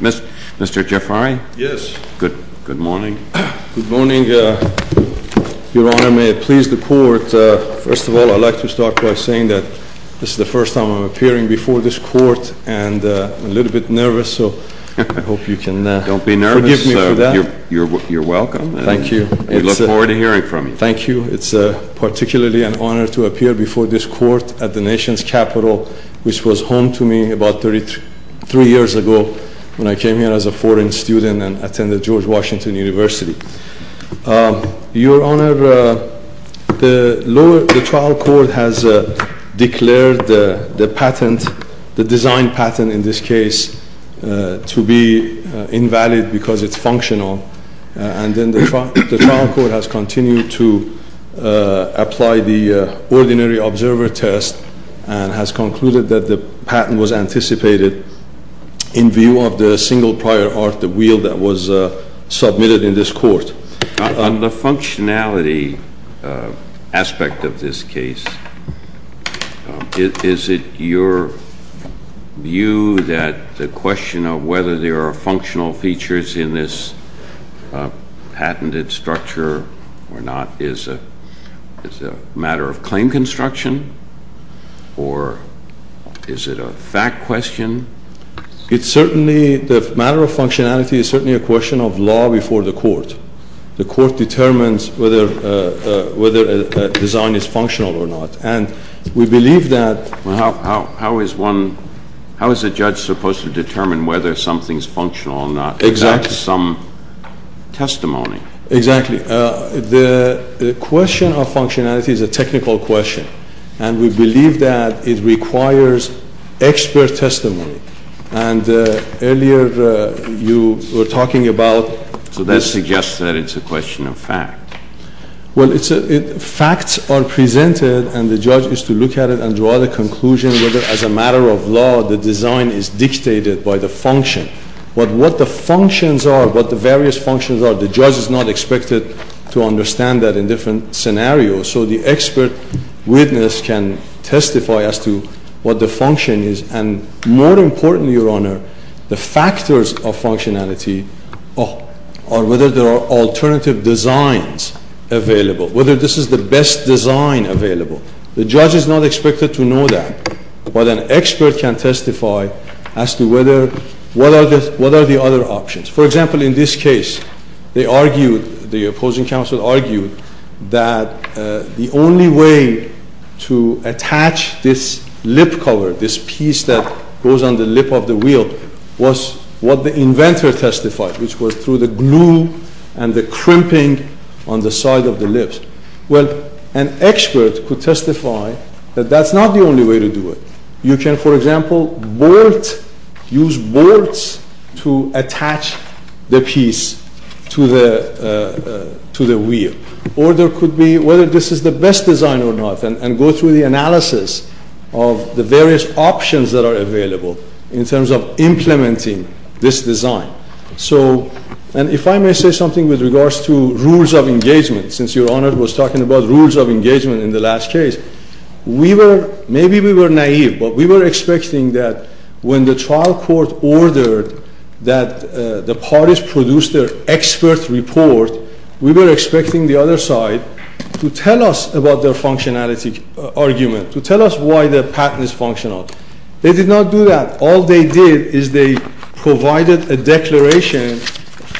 Mr. Jafari? Yes. Good morning. Good morning. Your Honor, may it please the Court, first of all, I'd like to start by saying that this is the first time I'm appearing before this Court, and I'm a little bit nervous, so I hope you can forgive me for that. Don't be nervous. You're welcome. Thank you. We look forward to hearing from you. Thank you. It's particularly an honor to appear before this Court at the nation's capital, which was home to me about 33 years ago when I came here as a foreign student and attended George Washington University. Your Honor, the trial court has declared the patent, the design patent in this case, to be invalid because it's functional. And then the trial court has continued to apply the ordinary observer test and has concluded that the patent was anticipated in view of the single prior art, the wheel, that was submitted in this Court. On the functionality aspect of this case, is it your view that the question of whether there are functional features in this patented structure or not is a matter of claim construction, or is it a fact question? It's certainly, the matter of functionality is certainly a question of law before the Court. The Court determines whether a design is functional or not. And we believe that… Well, how is one, how is a judge supposed to determine whether something's functional or not? Exactly. Without some testimony. Exactly. The question of functionality is a technical question. And we believe that it requires expert testimony. And earlier you were talking about… So that suggests that it's a question of fact. Well, facts are presented and the judge is to look at it and draw the conclusion whether as a matter of law the design is dictated by the function. But what the functions are, what the various functions are, the judge is not expected to understand that in different scenarios. So the expert witness can testify as to what the function is. And more importantly, Your Honor, the factors of functionality are whether there are alternative designs available, whether this is the best design available. The judge is not expected to know that. But an expert can testify as to whether, what are the other options. For example, in this case, they argued, the opposing counsel argued that the only way to attach this lip cover, this piece that goes on the lip of the wheel, was what the inventor testified, which was through the glue and the crimping on the side of the lips. Well, an expert could testify that that's not the only way to do it. You can, for example, use bolts to attach the piece to the wheel. Or there could be, whether this is the best design or not, and go through the analysis of the various options that are available in terms of implementing this design. So, and if I may say something with regards to rules of engagement, since Your Honor was talking about rules of engagement in the last case, we were, maybe we were naive, but we were expecting that when the trial court ordered that the parties produce their expert report, we were expecting the other side to tell us about their functionality argument, to tell us why their patent is functional. They did not do that. All they did is they provided a declaration,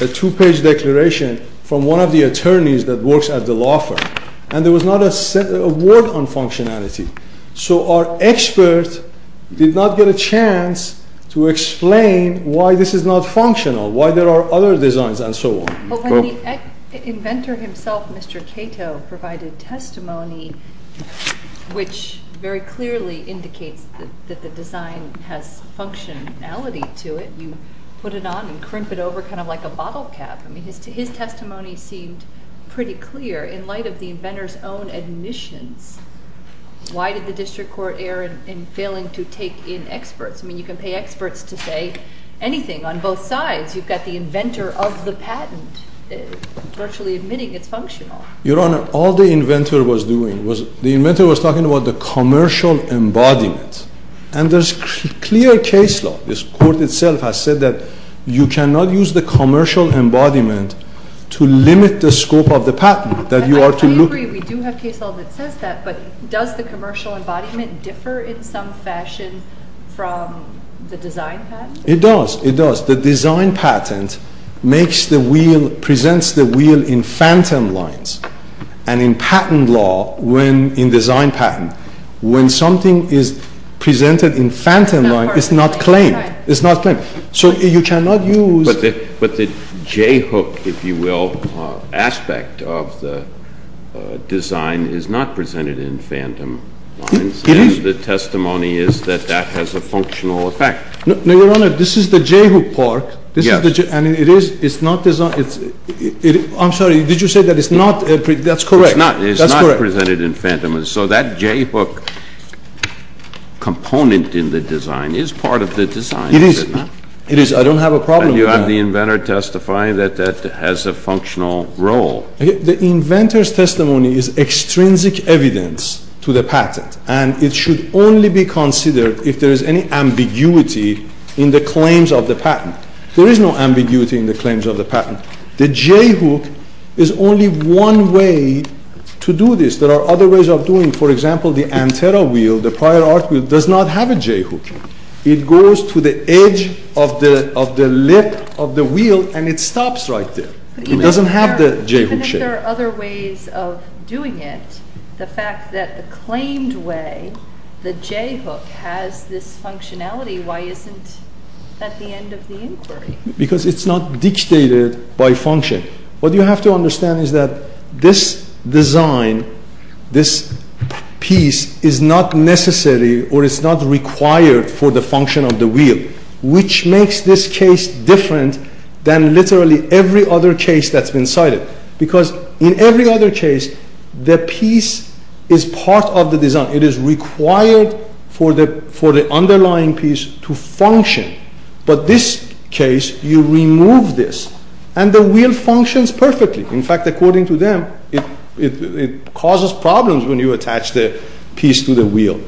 a two-page declaration, from one of the attorneys that works at the law firm. And there was not a word on functionality. So our expert did not get a chance to explain why this is not functional, why there are other designs, and so on. But when the inventor himself, Mr. Cato, provided testimony, which very clearly indicates that the design has functionality to it, you put it on and crimp it over kind of like a bottle cap. I mean, his testimony seemed pretty clear in light of the inventor's own admissions. Why did the district court err in failing to take in experts? I mean, you can pay experts to say anything on both sides. You've got the inventor of the patent virtually admitting it's functional. Your Honor, all the inventor was doing was, the inventor was talking about the commercial embodiment. And there's clear case law. This court itself has said that you cannot use the commercial embodiment to limit the scope of the patent. I agree, we do have case law that says that, but does the commercial embodiment differ in some fashion from the design patent? It does, it does. The design patent makes the wheel, presents the wheel in phantom lines. And in patent law, when, in design patent, when something is presented in phantom line, it's not claimed. It's not claimed. So you cannot use… But the J-hook, if you will, aspect of the design is not presented in phantom lines. It is. And the testimony is that that has a functional effect. No, Your Honor, this is the J-hook part. Yes. And it is, it's not, I'm sorry, did you say that it's not, that's correct. It's not presented in phantom lines. So that J-hook component in the design is part of the design. It is, it is. I don't have a problem with that. And you have the inventor testifying that that has a functional role. The inventor's testimony is extrinsic evidence to the patent, and it should only be considered if there is any ambiguity in the claims of the patent. There is no ambiguity in the claims of the patent. The J-hook is only one way to do this. There are other ways of doing, for example, the Antero wheel, the prior art wheel, does not have a J-hook. It goes to the edge of the lip of the wheel, and it stops right there. It doesn't have the J-hook shape. But even if there are other ways of doing it, the fact that the claimed way, the J-hook, has this functionality, why isn't that the end of the inquiry? Because it's not dictated by function. What you have to understand is that this design, this piece, is not necessary or is not required for the function of the wheel, which makes this case different than literally every other case that's been cited. Because in every other case, the piece is part of the design. It is required for the underlying piece to function. But this case, you remove this, and the wheel functions perfectly. In fact, according to them, it causes problems when you attach the piece to the wheel.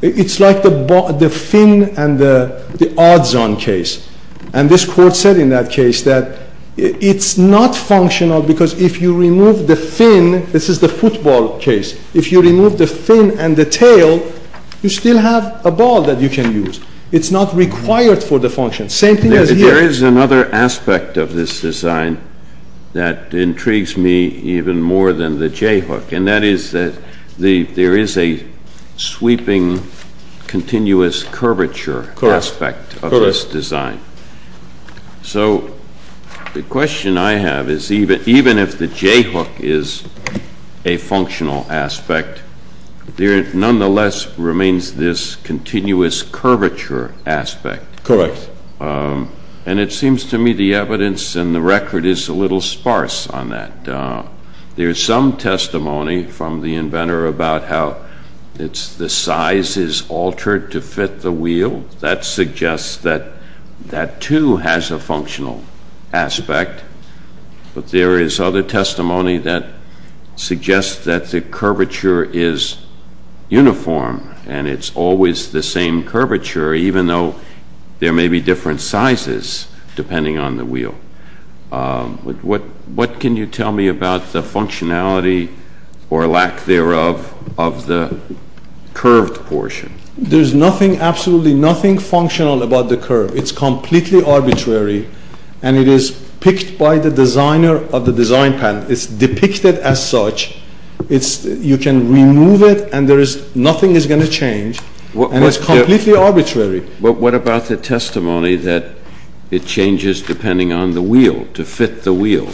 It's like the fin and the odds-on case. And this court said in that case that it's not functional because if you remove the fin, this is the football case, if you remove the fin and the tail, you still have a ball that you can use. It's not required for the function. Same thing as here. There is another aspect of this design that intrigues me even more than the J-hook, and that is that there is a sweeping, continuous curvature aspect of this design. So the question I have is even if the J-hook is a functional aspect, there nonetheless remains this continuous curvature aspect. Correct. And it seems to me the evidence and the record is a little sparse on that. There is some testimony from the inventor about how the size is altered to fit the wheel. That suggests that that, too, has a functional aspect. But there is other testimony that suggests that the curvature is uniform, and it's always the same curvature even though there may be different sizes depending on the wheel. What can you tell me about the functionality or lack thereof of the curved portion? There is absolutely nothing functional about the curve. It's completely arbitrary, and it is picked by the designer of the design plan. It's depicted as such. You can remove it, and nothing is going to change. And it's completely arbitrary. But what about the testimony that it changes depending on the wheel, to fit the wheel?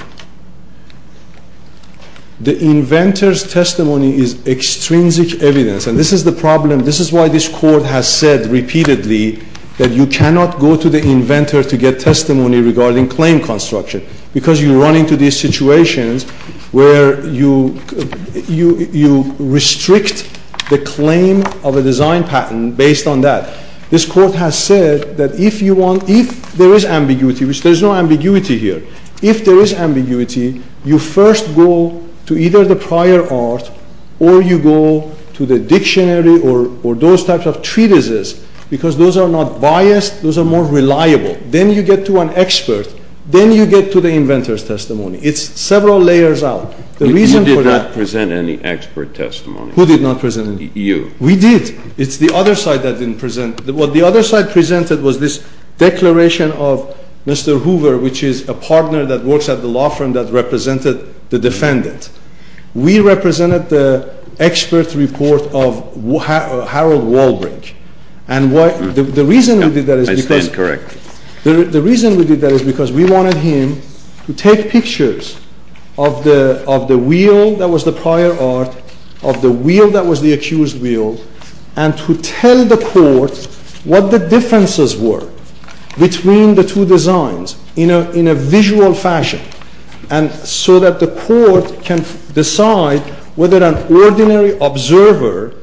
The inventor's testimony is extrinsic evidence. And this is the problem. This is why this court has said repeatedly that you cannot go to the inventor to get testimony regarding claim construction because you run into these situations where you restrict the claim of a design patent based on that. This court has said that if there is ambiguity, which there is no ambiguity here, if there is ambiguity, you first go to either the prior art or you go to the dictionary or those types of treatises because those are not biased. Those are more reliable. Then you get to an expert. Then you get to the inventor's testimony. It's several layers out. You did not present any expert testimony. Who did not present any? You. We did. It's the other side that didn't present. What the other side presented was this declaration of Mr. Hoover, which is a partner that works at the law firm that represented the defendant. We represented the expert report of Harold Walbrick. And the reason we did that is because we wanted him to take pictures of the wheel that was the prior art, of the wheel that was the accused wheel, and to tell the court what the differences were between the two designs in a visual fashion so that the court can decide whether an ordinary observer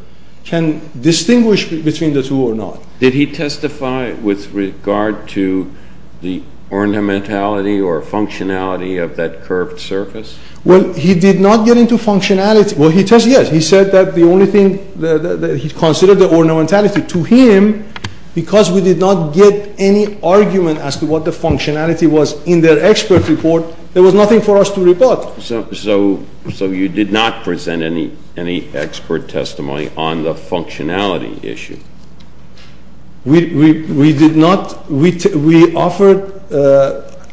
can distinguish between the two or not. Did he testify with regard to the ornamentality or functionality of that curved surface? Well, he did not get into functionality. Well, he testified, yes. He said that the only thing that he considered the ornamentality. To him, because we did not get any argument as to what the functionality was in their expert report, there was nothing for us to report. So you did not present any expert testimony on the functionality issue? We did not. We offered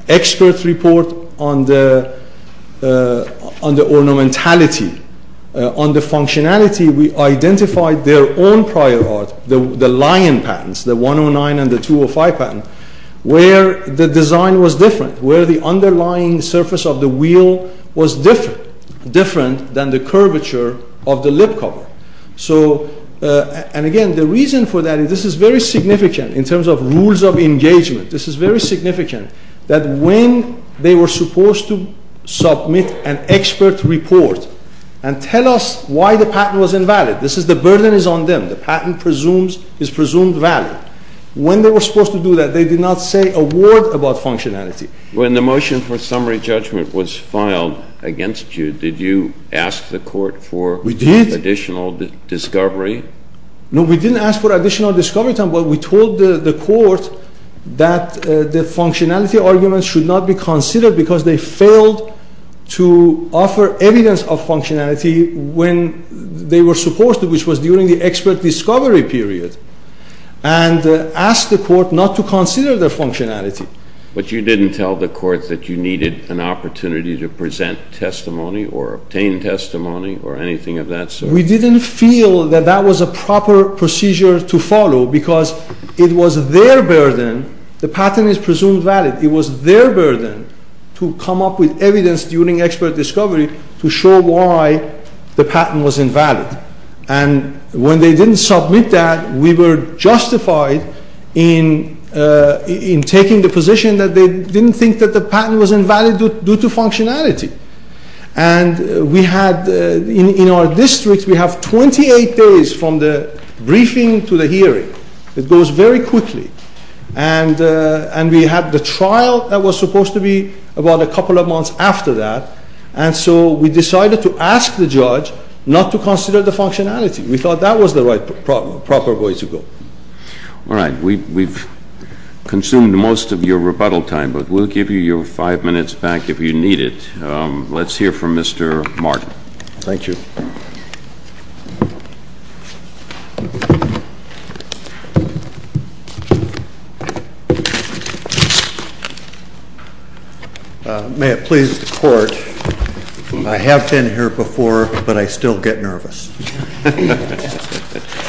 expert report on the ornamentality, on the functionality. We identified their own prior art, the lion patents, the 109 and the 205 patent, where the design was different, where the underlying surface of the wheel was different, different than the curvature of the lip cover. So, and again, the reason for that is this is very significant in terms of rules of engagement. This is very significant that when they were supposed to submit an expert report and tell us why the patent was invalid, this is the burden is on them. The patent is presumed valid. When they were supposed to do that, they did not say a word about functionality. When the motion for summary judgment was filed against you, did you ask the court for additional details? Discovery? No, we didn't ask for additional discovery time, but we told the court that the functionality argument should not be considered because they failed to offer evidence of functionality when they were supposed to, which was during the expert discovery period, and asked the court not to consider their functionality. But you didn't tell the court that you needed an opportunity to present testimony or obtain testimony or anything of that sort? No, we didn't feel that that was a proper procedure to follow because it was their burden. The patent is presumed valid. It was their burden to come up with evidence during expert discovery to show why the patent was invalid. And when they didn't submit that, we were justified in taking the position that they didn't think that the patent was invalid due to functionality. And we had, in our district, we have 28 days from the briefing to the hearing. It goes very quickly. And we had the trial that was supposed to be about a couple of months after that, and so we decided to ask the judge not to consider the functionality. We thought that was the right, proper way to go. All right. We've consumed most of your rebuttal time, but we'll give you your five minutes back if you need it. Let's hear from Mr. Martin. Thank you. May it please the Court, I have been here before, but I still get nervous.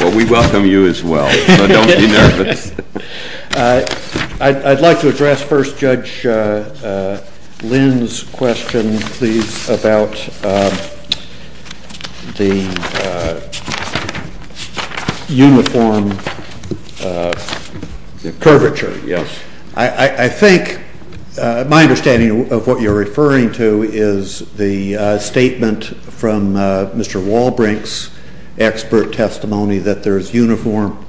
Well, we welcome you as well, so don't be nervous. I'd like to address first Judge Lynn's question, please, about the uniform curvature. Yes. I think my understanding of what you're referring to is the statement from Mr. Walbrink's expert testimony that there is uniform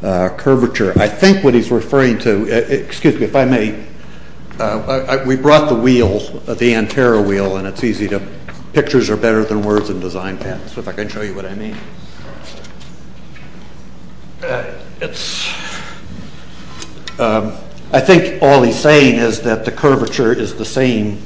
curvature. I think what he's referring to, excuse me if I may, we brought the wheel, the Antero wheel, and it's easy to, pictures are better than words in design patents, if I can show you what I mean. I think all he's saying is that the curvature is the same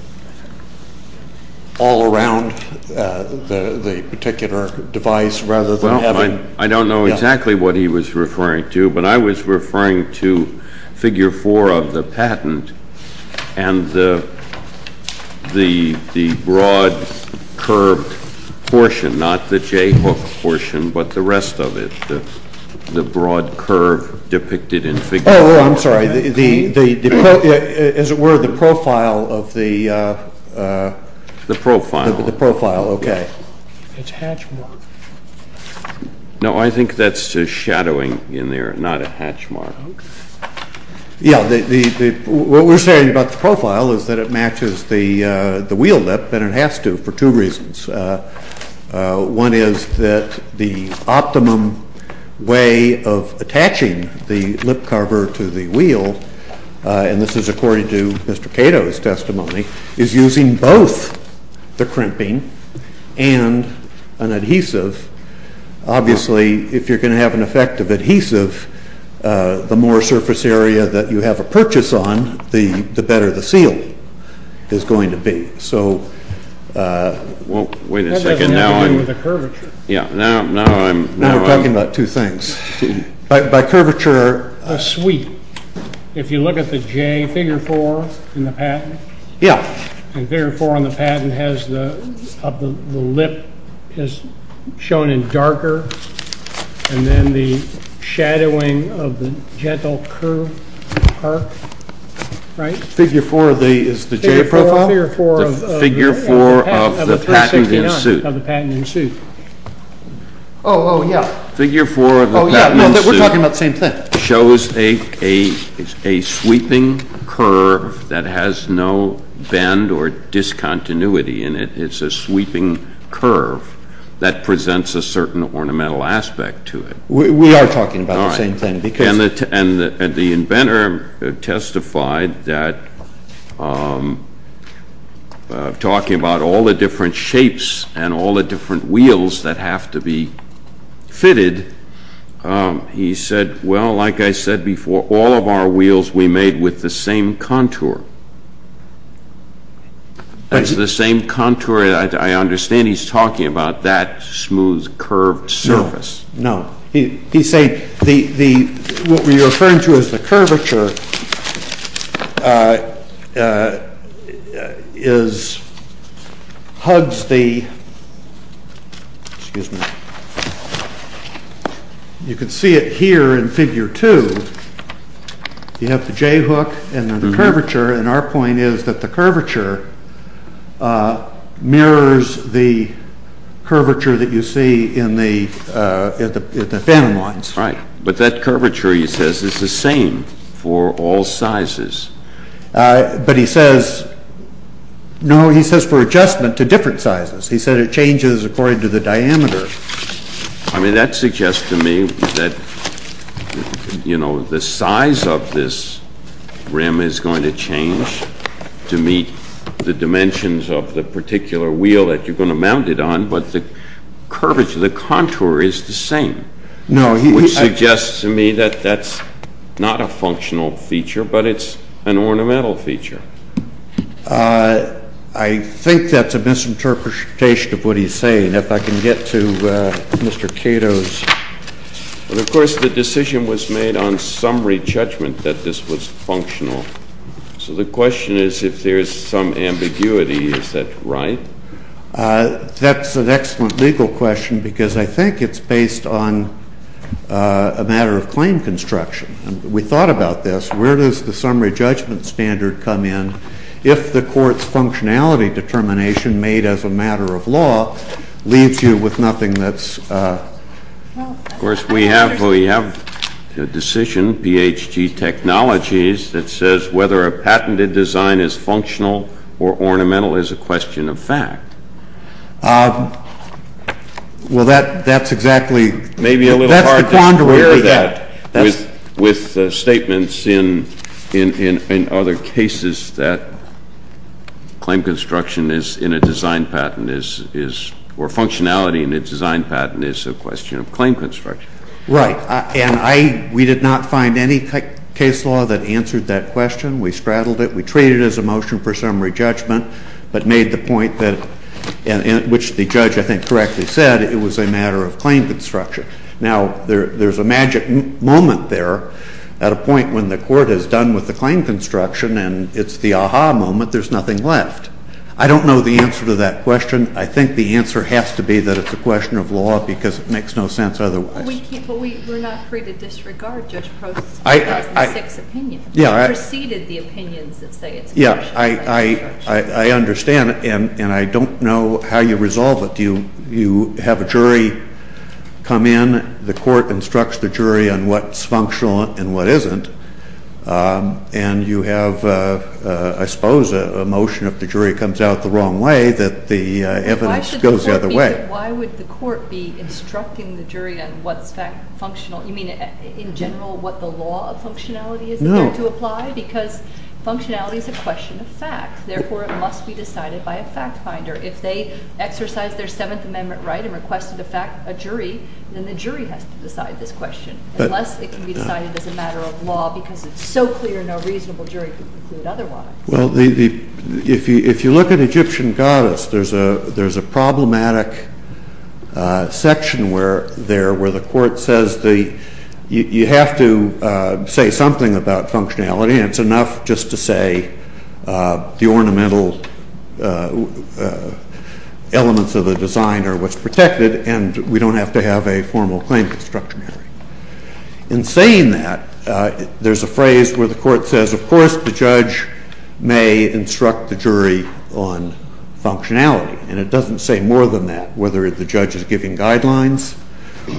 all around the particular device rather than having I don't know exactly what he was referring to, but I was referring to figure four of the patent and the broad curved portion, not the J-hook portion, but the rest of it, the broad curve depicted in figure four. Oh, I'm sorry. As it were, the profile of the The profile. The profile, okay. It's a hatch mark. No, I think that's just shadowing in there, not a hatch mark. Yeah, what we're saying about the profile is that it matches the wheel lip, and it has to for two reasons. One is that the optimum way of attaching the lip cover to the wheel, and this is according to Mr. Cato's testimony, is using both the crimping and an adhesive. Obviously, if you're going to have an effective adhesive, the more surface area that you have a purchase on, the better the seal is going to be. Wait a second. That has nothing to do with the curvature. Now we're talking about two things. By curvature, a sweep. If you look at the J, figure four in the patent. Yeah. And figure four in the patent has the lip shown in darker, and then the shadowing of the gentle curve. Figure four is the J profile? Figure four of the patent in suit. Of the patent in suit. Oh, yeah. Figure four of the patent in suit. Oh, yeah. We're talking about the same thing. Shows a sweeping curve that has no bend or discontinuity in it. It's a sweeping curve that presents a certain ornamental aspect to it. We are talking about the same thing. And the inventor testified that, talking about all the different shapes and all the different wheels that have to be fitted, he said, well, like I said before, all of our wheels we made with the same contour. That's the same contour. I understand he's talking about that smooth, curved surface. No. He's saying what we're referring to as the curvature is, hugs the, excuse me, you can see it here in figure two. You have the J hook and the curvature, and our point is that the curvature mirrors the curvature that you see in the phantom lines. Right. But that curvature, he says, is the same for all sizes. But he says, no, he says for adjustment to different sizes. He said it changes according to the diameter. I mean, that suggests to me that, you know, the size of this rim is going to change to meet the dimensions of the particular wheel that you're going to mount it on. But the curvature, the contour, is the same. No, he Which suggests to me that that's not a functional feature, but it's an ornamental feature. I think that's a misinterpretation of what he's saying. If I can get to Mr. Cato's. Well, of course, the decision was made on summary judgment that this was functional. So the question is, if there is some ambiguity, is that right? That's an excellent legal question because I think it's based on a matter of claim construction. We thought about this. Where does the summary judgment standard come in? If the court's functionality determination made as a matter of law leaves you with nothing that's. Of course, we have we have a decision, Ph.D. technologies that says whether a patented design is functional or ornamental is a question of fact. Well, that's exactly. Maybe a little hard to clear that with statements in other cases that claim construction is in a design patent is or functionality in a design patent is a question of claim construction. Right. And I we did not find any case law that answered that question. We straddled it. We treated it as a motion for summary judgment, but made the point that which the judge, I think, correctly said it was a matter of claim construction. Now, there's a magic moment there at a point when the court has done with the claim construction and it's the aha moment. There's nothing left. I don't know the answer to that question. I think the answer has to be that it's a question of law because it makes no sense otherwise. But we're not free to disregard Judge Prost's 2006 opinion. Yeah. It preceded the opinions that say it's a question of claim construction. Yeah, I understand. And I don't know how you resolve it. Do you have a jury come in? The court instructs the jury on what's functional and what isn't. And you have, I suppose, a motion if the jury comes out the wrong way that the evidence goes the other way. Why would the court be instructing the jury on what's functional? You mean in general what the law of functionality is there to apply? No. Because functionality is a question of fact. Therefore, it must be decided by a fact finder. If they exercise their Seventh Amendment right and requested a jury, then the jury has to decide this question. Unless it can be decided as a matter of law because it's so clear no reasonable jury can conclude otherwise. Well, if you look at Egyptian goddess, there's a problematic section there where the court says you have to say something about functionality, and it's enough just to say the ornamental elements of the design are what's protected, and we don't have to have a formal claim construction hearing. In saying that, there's a phrase where the court says, of course, the judge may instruct the jury on functionality, and it doesn't say more than that, whether the judge is giving guidelines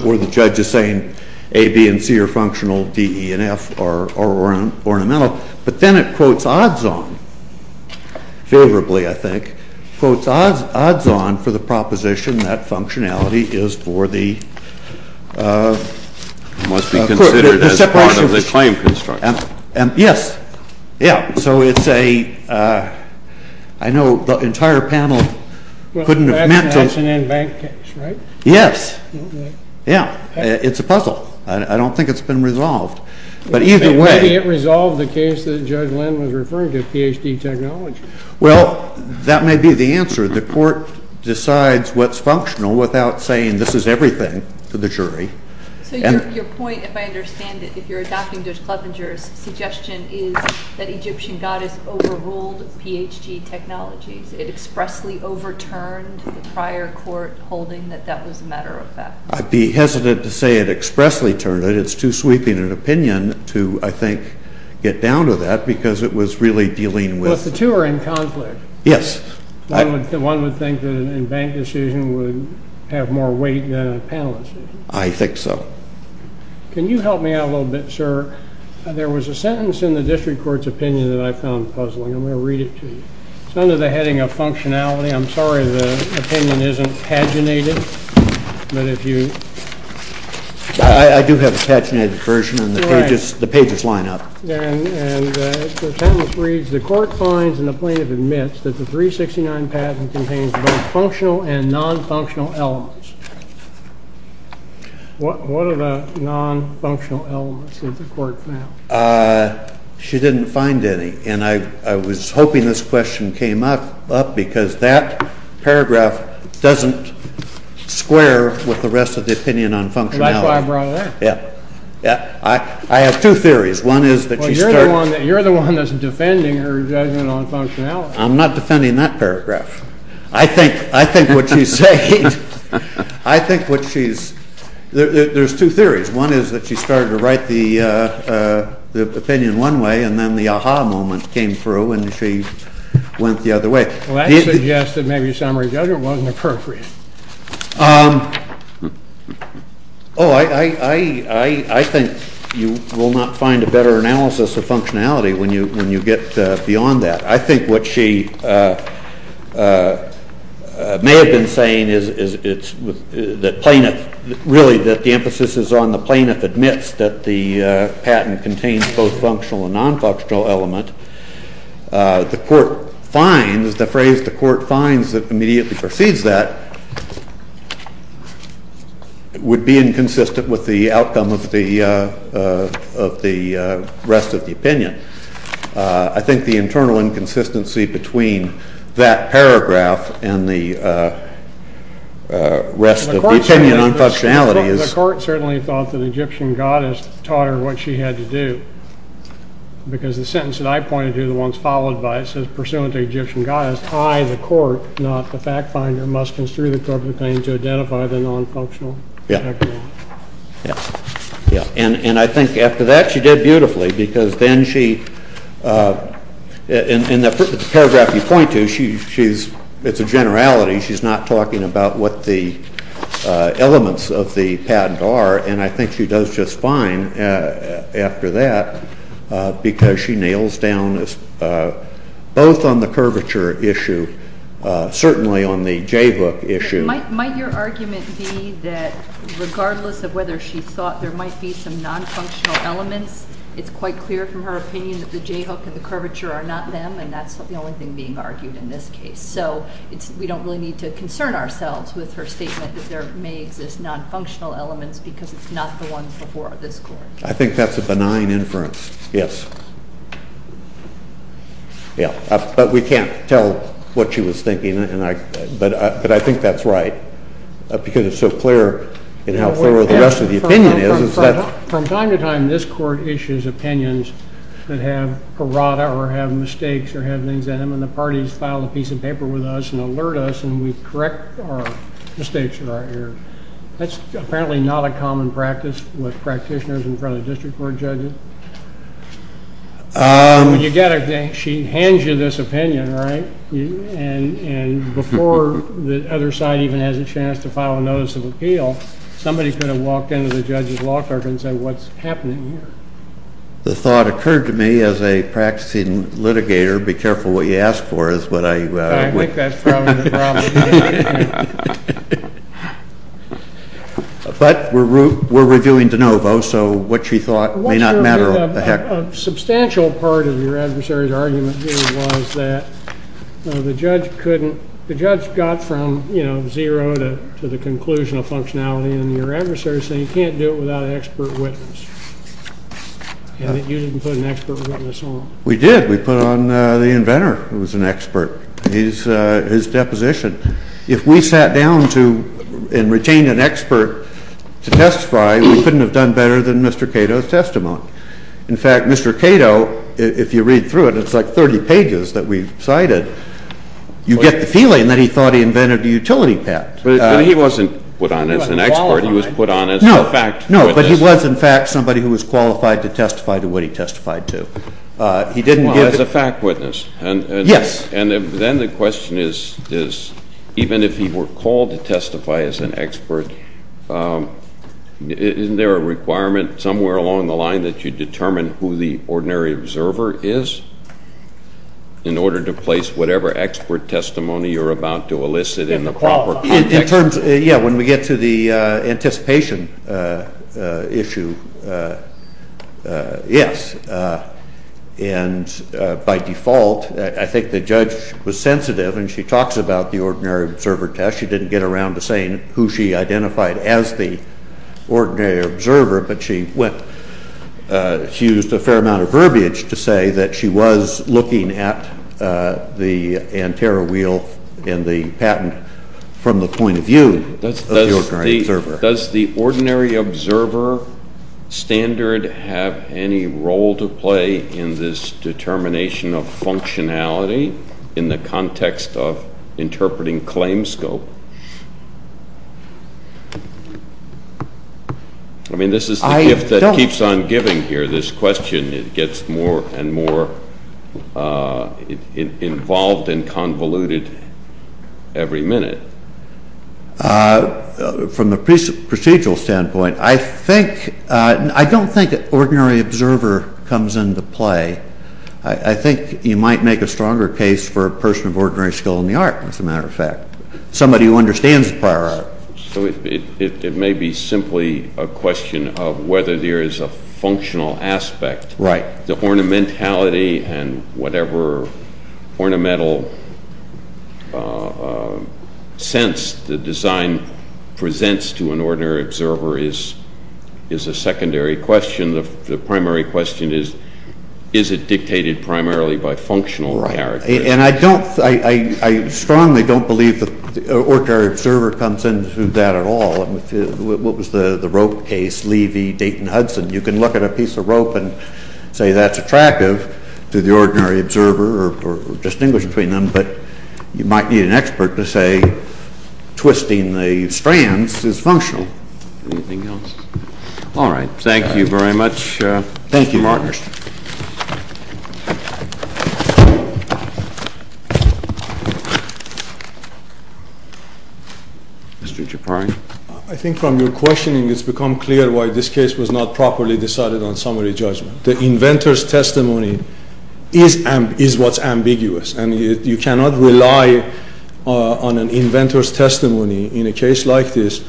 or the judge is saying A, B, and C are functional, D, E, and F are ornamental. But then it quotes odds on favorably, I think, quotes odds on for the proposition that functionality is for the separation of the claim construction. Yes. Yeah. So it's a, I know the entire panel couldn't have meant to. Well, that's an in-bank case, right? Yes. Yeah. It's a puzzle. I don't think it's been resolved. Maybe it resolved the case that Judge Lynn was referring to, Ph.D. technology. Well, that may be the answer. The court decides what's functional without saying this is everything to the jury. So your point, if I understand it, if you're adopting Judge Clevenger's suggestion, is that Egyptian goddess overruled Ph.D. technologies. It expressly overturned the prior court holding that that was a matter of fact. I'd be hesitant to say it expressly turned it. But it's too sweeping an opinion to, I think, get down to that because it was really dealing with. But the two are in conflict. Yes. One would think that an in-bank decision would have more weight than a panel decision. I think so. Can you help me out a little bit, sir? There was a sentence in the district court's opinion that I found puzzling. I'm going to read it to you. It's under the heading of functionality. I'm sorry the opinion isn't paginated. I do have a paginated version, and the pages line up. And the sentence reads, the court finds and the plaintiff admits that the 369 patent contains both functional and non-functional elements. What are the non-functional elements that the court found? She didn't find any. I was hoping this question came up because that paragraph doesn't square with the rest of the opinion on functionality. That's why I brought it up. I have two theories. You're the one that's defending her judgment on functionality. I'm not defending that paragraph. I think what she's saying, I think what she's, there's two theories. One is that she started to write the opinion one way and then the aha moment came through and she went the other way. Well, that suggests that maybe summary judgment wasn't appropriate. Oh, I think you will not find a better analysis of functionality when you get beyond that. I think what she may have been saying is that plaintiff, really that the emphasis is on the plaintiff admits that the patent contains both functional and non-functional element. The court finds, the phrase the court finds that immediately precedes that would be inconsistent with the outcome of the rest of the opinion. I think the internal inconsistency between that paragraph and the rest of the opinion on functionality is. The court certainly thought that Egyptian goddess taught her what she had to do. Because the sentence that I pointed to, the ones followed by it, says pursuant to Egyptian goddess, I, the court, not the fact finder, must construe the corporate claim to identify the non-functional. And I think after that she did beautifully because then she, in the paragraph you point to, it's a generality. She's not talking about what the elements of the patent are and I think she does just fine after that because she nails down both on the curvature issue, certainly on the J book issue. Might your argument be that regardless of whether she thought there might be some non-functional elements, it's quite clear from her opinion that the J book and the curvature are not them and that's the only thing being argued in this case. So we don't really need to concern ourselves with her statement that there may exist non-functional elements because it's not the ones before this court. I think that's a benign inference, yes. Yeah, but we can't tell what she was thinking but I think that's right because it's so clear in how thorough the rest of the opinion is. From time to time this court issues opinions that have parada or have mistakes or have things in them and the parties file a piece of paper with us and alert us and we correct our mistakes or our errors. That's apparently not a common practice with practitioners in front of district court judges. She hands you this opinion, right? And before the other side even has a chance to file a notice of appeal, somebody could have walked into the judge's law clerk and said, what's happening here? The thought occurred to me as a practicing litigator, be careful what you ask for. I think that's probably the problem. But we're reviewing de novo so what she thought may not matter. A substantial part of your adversary's argument was that the judge couldn't, the judge got from zero to the conclusion of functionality and your adversary said you can't do it without an expert witness. You didn't put an expert witness on. We did, we put on the inventor who was an expert. His deposition. If we sat down to and retained an expert to testify, we couldn't have done better than Mr. Cato's testimony. In fact, Mr. Cato, if you read through it, it's like 30 pages that we've cited. You get the feeling that he thought he invented a utility patent. But he wasn't put on as an expert. He was put on as a fact witness. No, but he was in fact somebody who was qualified to testify to what he testified to. He didn't give the fact witness. Yes. And then the question is even if he were called to testify as an expert, isn't there a requirement somewhere along the line that you determine who the ordinary observer is in order to place whatever expert testimony you're about to elicit in the proper context? In terms, yeah, when we get to the anticipation issue, yes. And by default, I think the judge was sensitive and she talks about the ordinary observer test. She didn't get around to saying who she identified as the ordinary observer. But she went, she used a fair amount of verbiage to say that she was looking at the Antero wheel and the patent from the point of view of the ordinary observer. Does the ordinary observer standard have any role to play in this determination of functionality in the context of interpreting claims scope? I mean, this is the gift that keeps on giving here, this question. It gets more and more involved and convoluted every minute. From the procedural standpoint, I think, I don't think ordinary observer comes into play. I think you might make a stronger case for a person of ordinary skill in the art, as a matter of fact. Somebody who understands the prior art. So it may be simply a question of whether there is a functional aspect. Right. The ornamentality and whatever ornamental sense the design presents to an ordinary observer is a secondary question. The primary question is, is it dictated primarily by functional character? And I don't, I strongly don't believe that ordinary observer comes into that at all. What was the rope case? Levy, Dayton, Hudson. You can look at a piece of rope and say that's attractive to the ordinary observer or distinguish between them. But you might need an expert to say twisting the strands is functional. Anything else? All right. Thank you very much. Thank you, Mark. Thank you. Mr. Chaparro. I think from your questioning it's become clear why this case was not properly decided on summary judgment. The inventor's testimony is what's ambiguous. And you cannot rely on an inventor's testimony in a case like this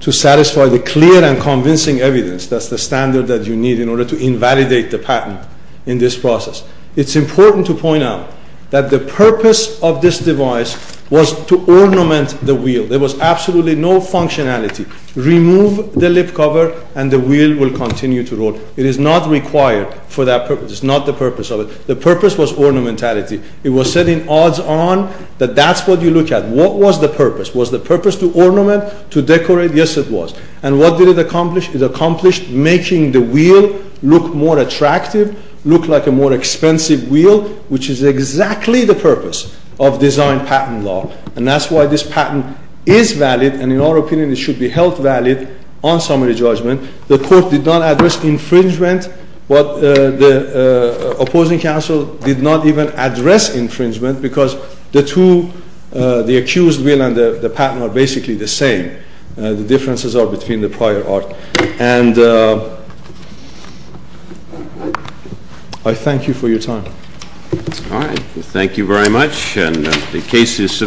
to satisfy the clear and convincing evidence. That's the standard that you need in order to invalidate the patent in this process. It's important to point out that the purpose of this device was to ornament the wheel. There was absolutely no functionality. Remove the lip cover and the wheel will continue to roll. It is not required for that purpose. It's not the purpose of it. The purpose was ornamentality. It was setting odds on that that's what you look at. What was the purpose? Was the purpose to ornament, to decorate? Yes, it was. And what did it accomplish? It accomplished making the wheel look more attractive, look like a more expensive wheel, which is exactly the purpose of design patent law. And that's why this patent is valid and, in our opinion, it should be held valid on summary judgment. The court did not address infringement, but the opposing counsel did not even address infringement because the two, the accused wheel and the patent are basically the same. The differences are between the prior art. And I thank you for your time. All right. Thank you very much. And the case is submitted.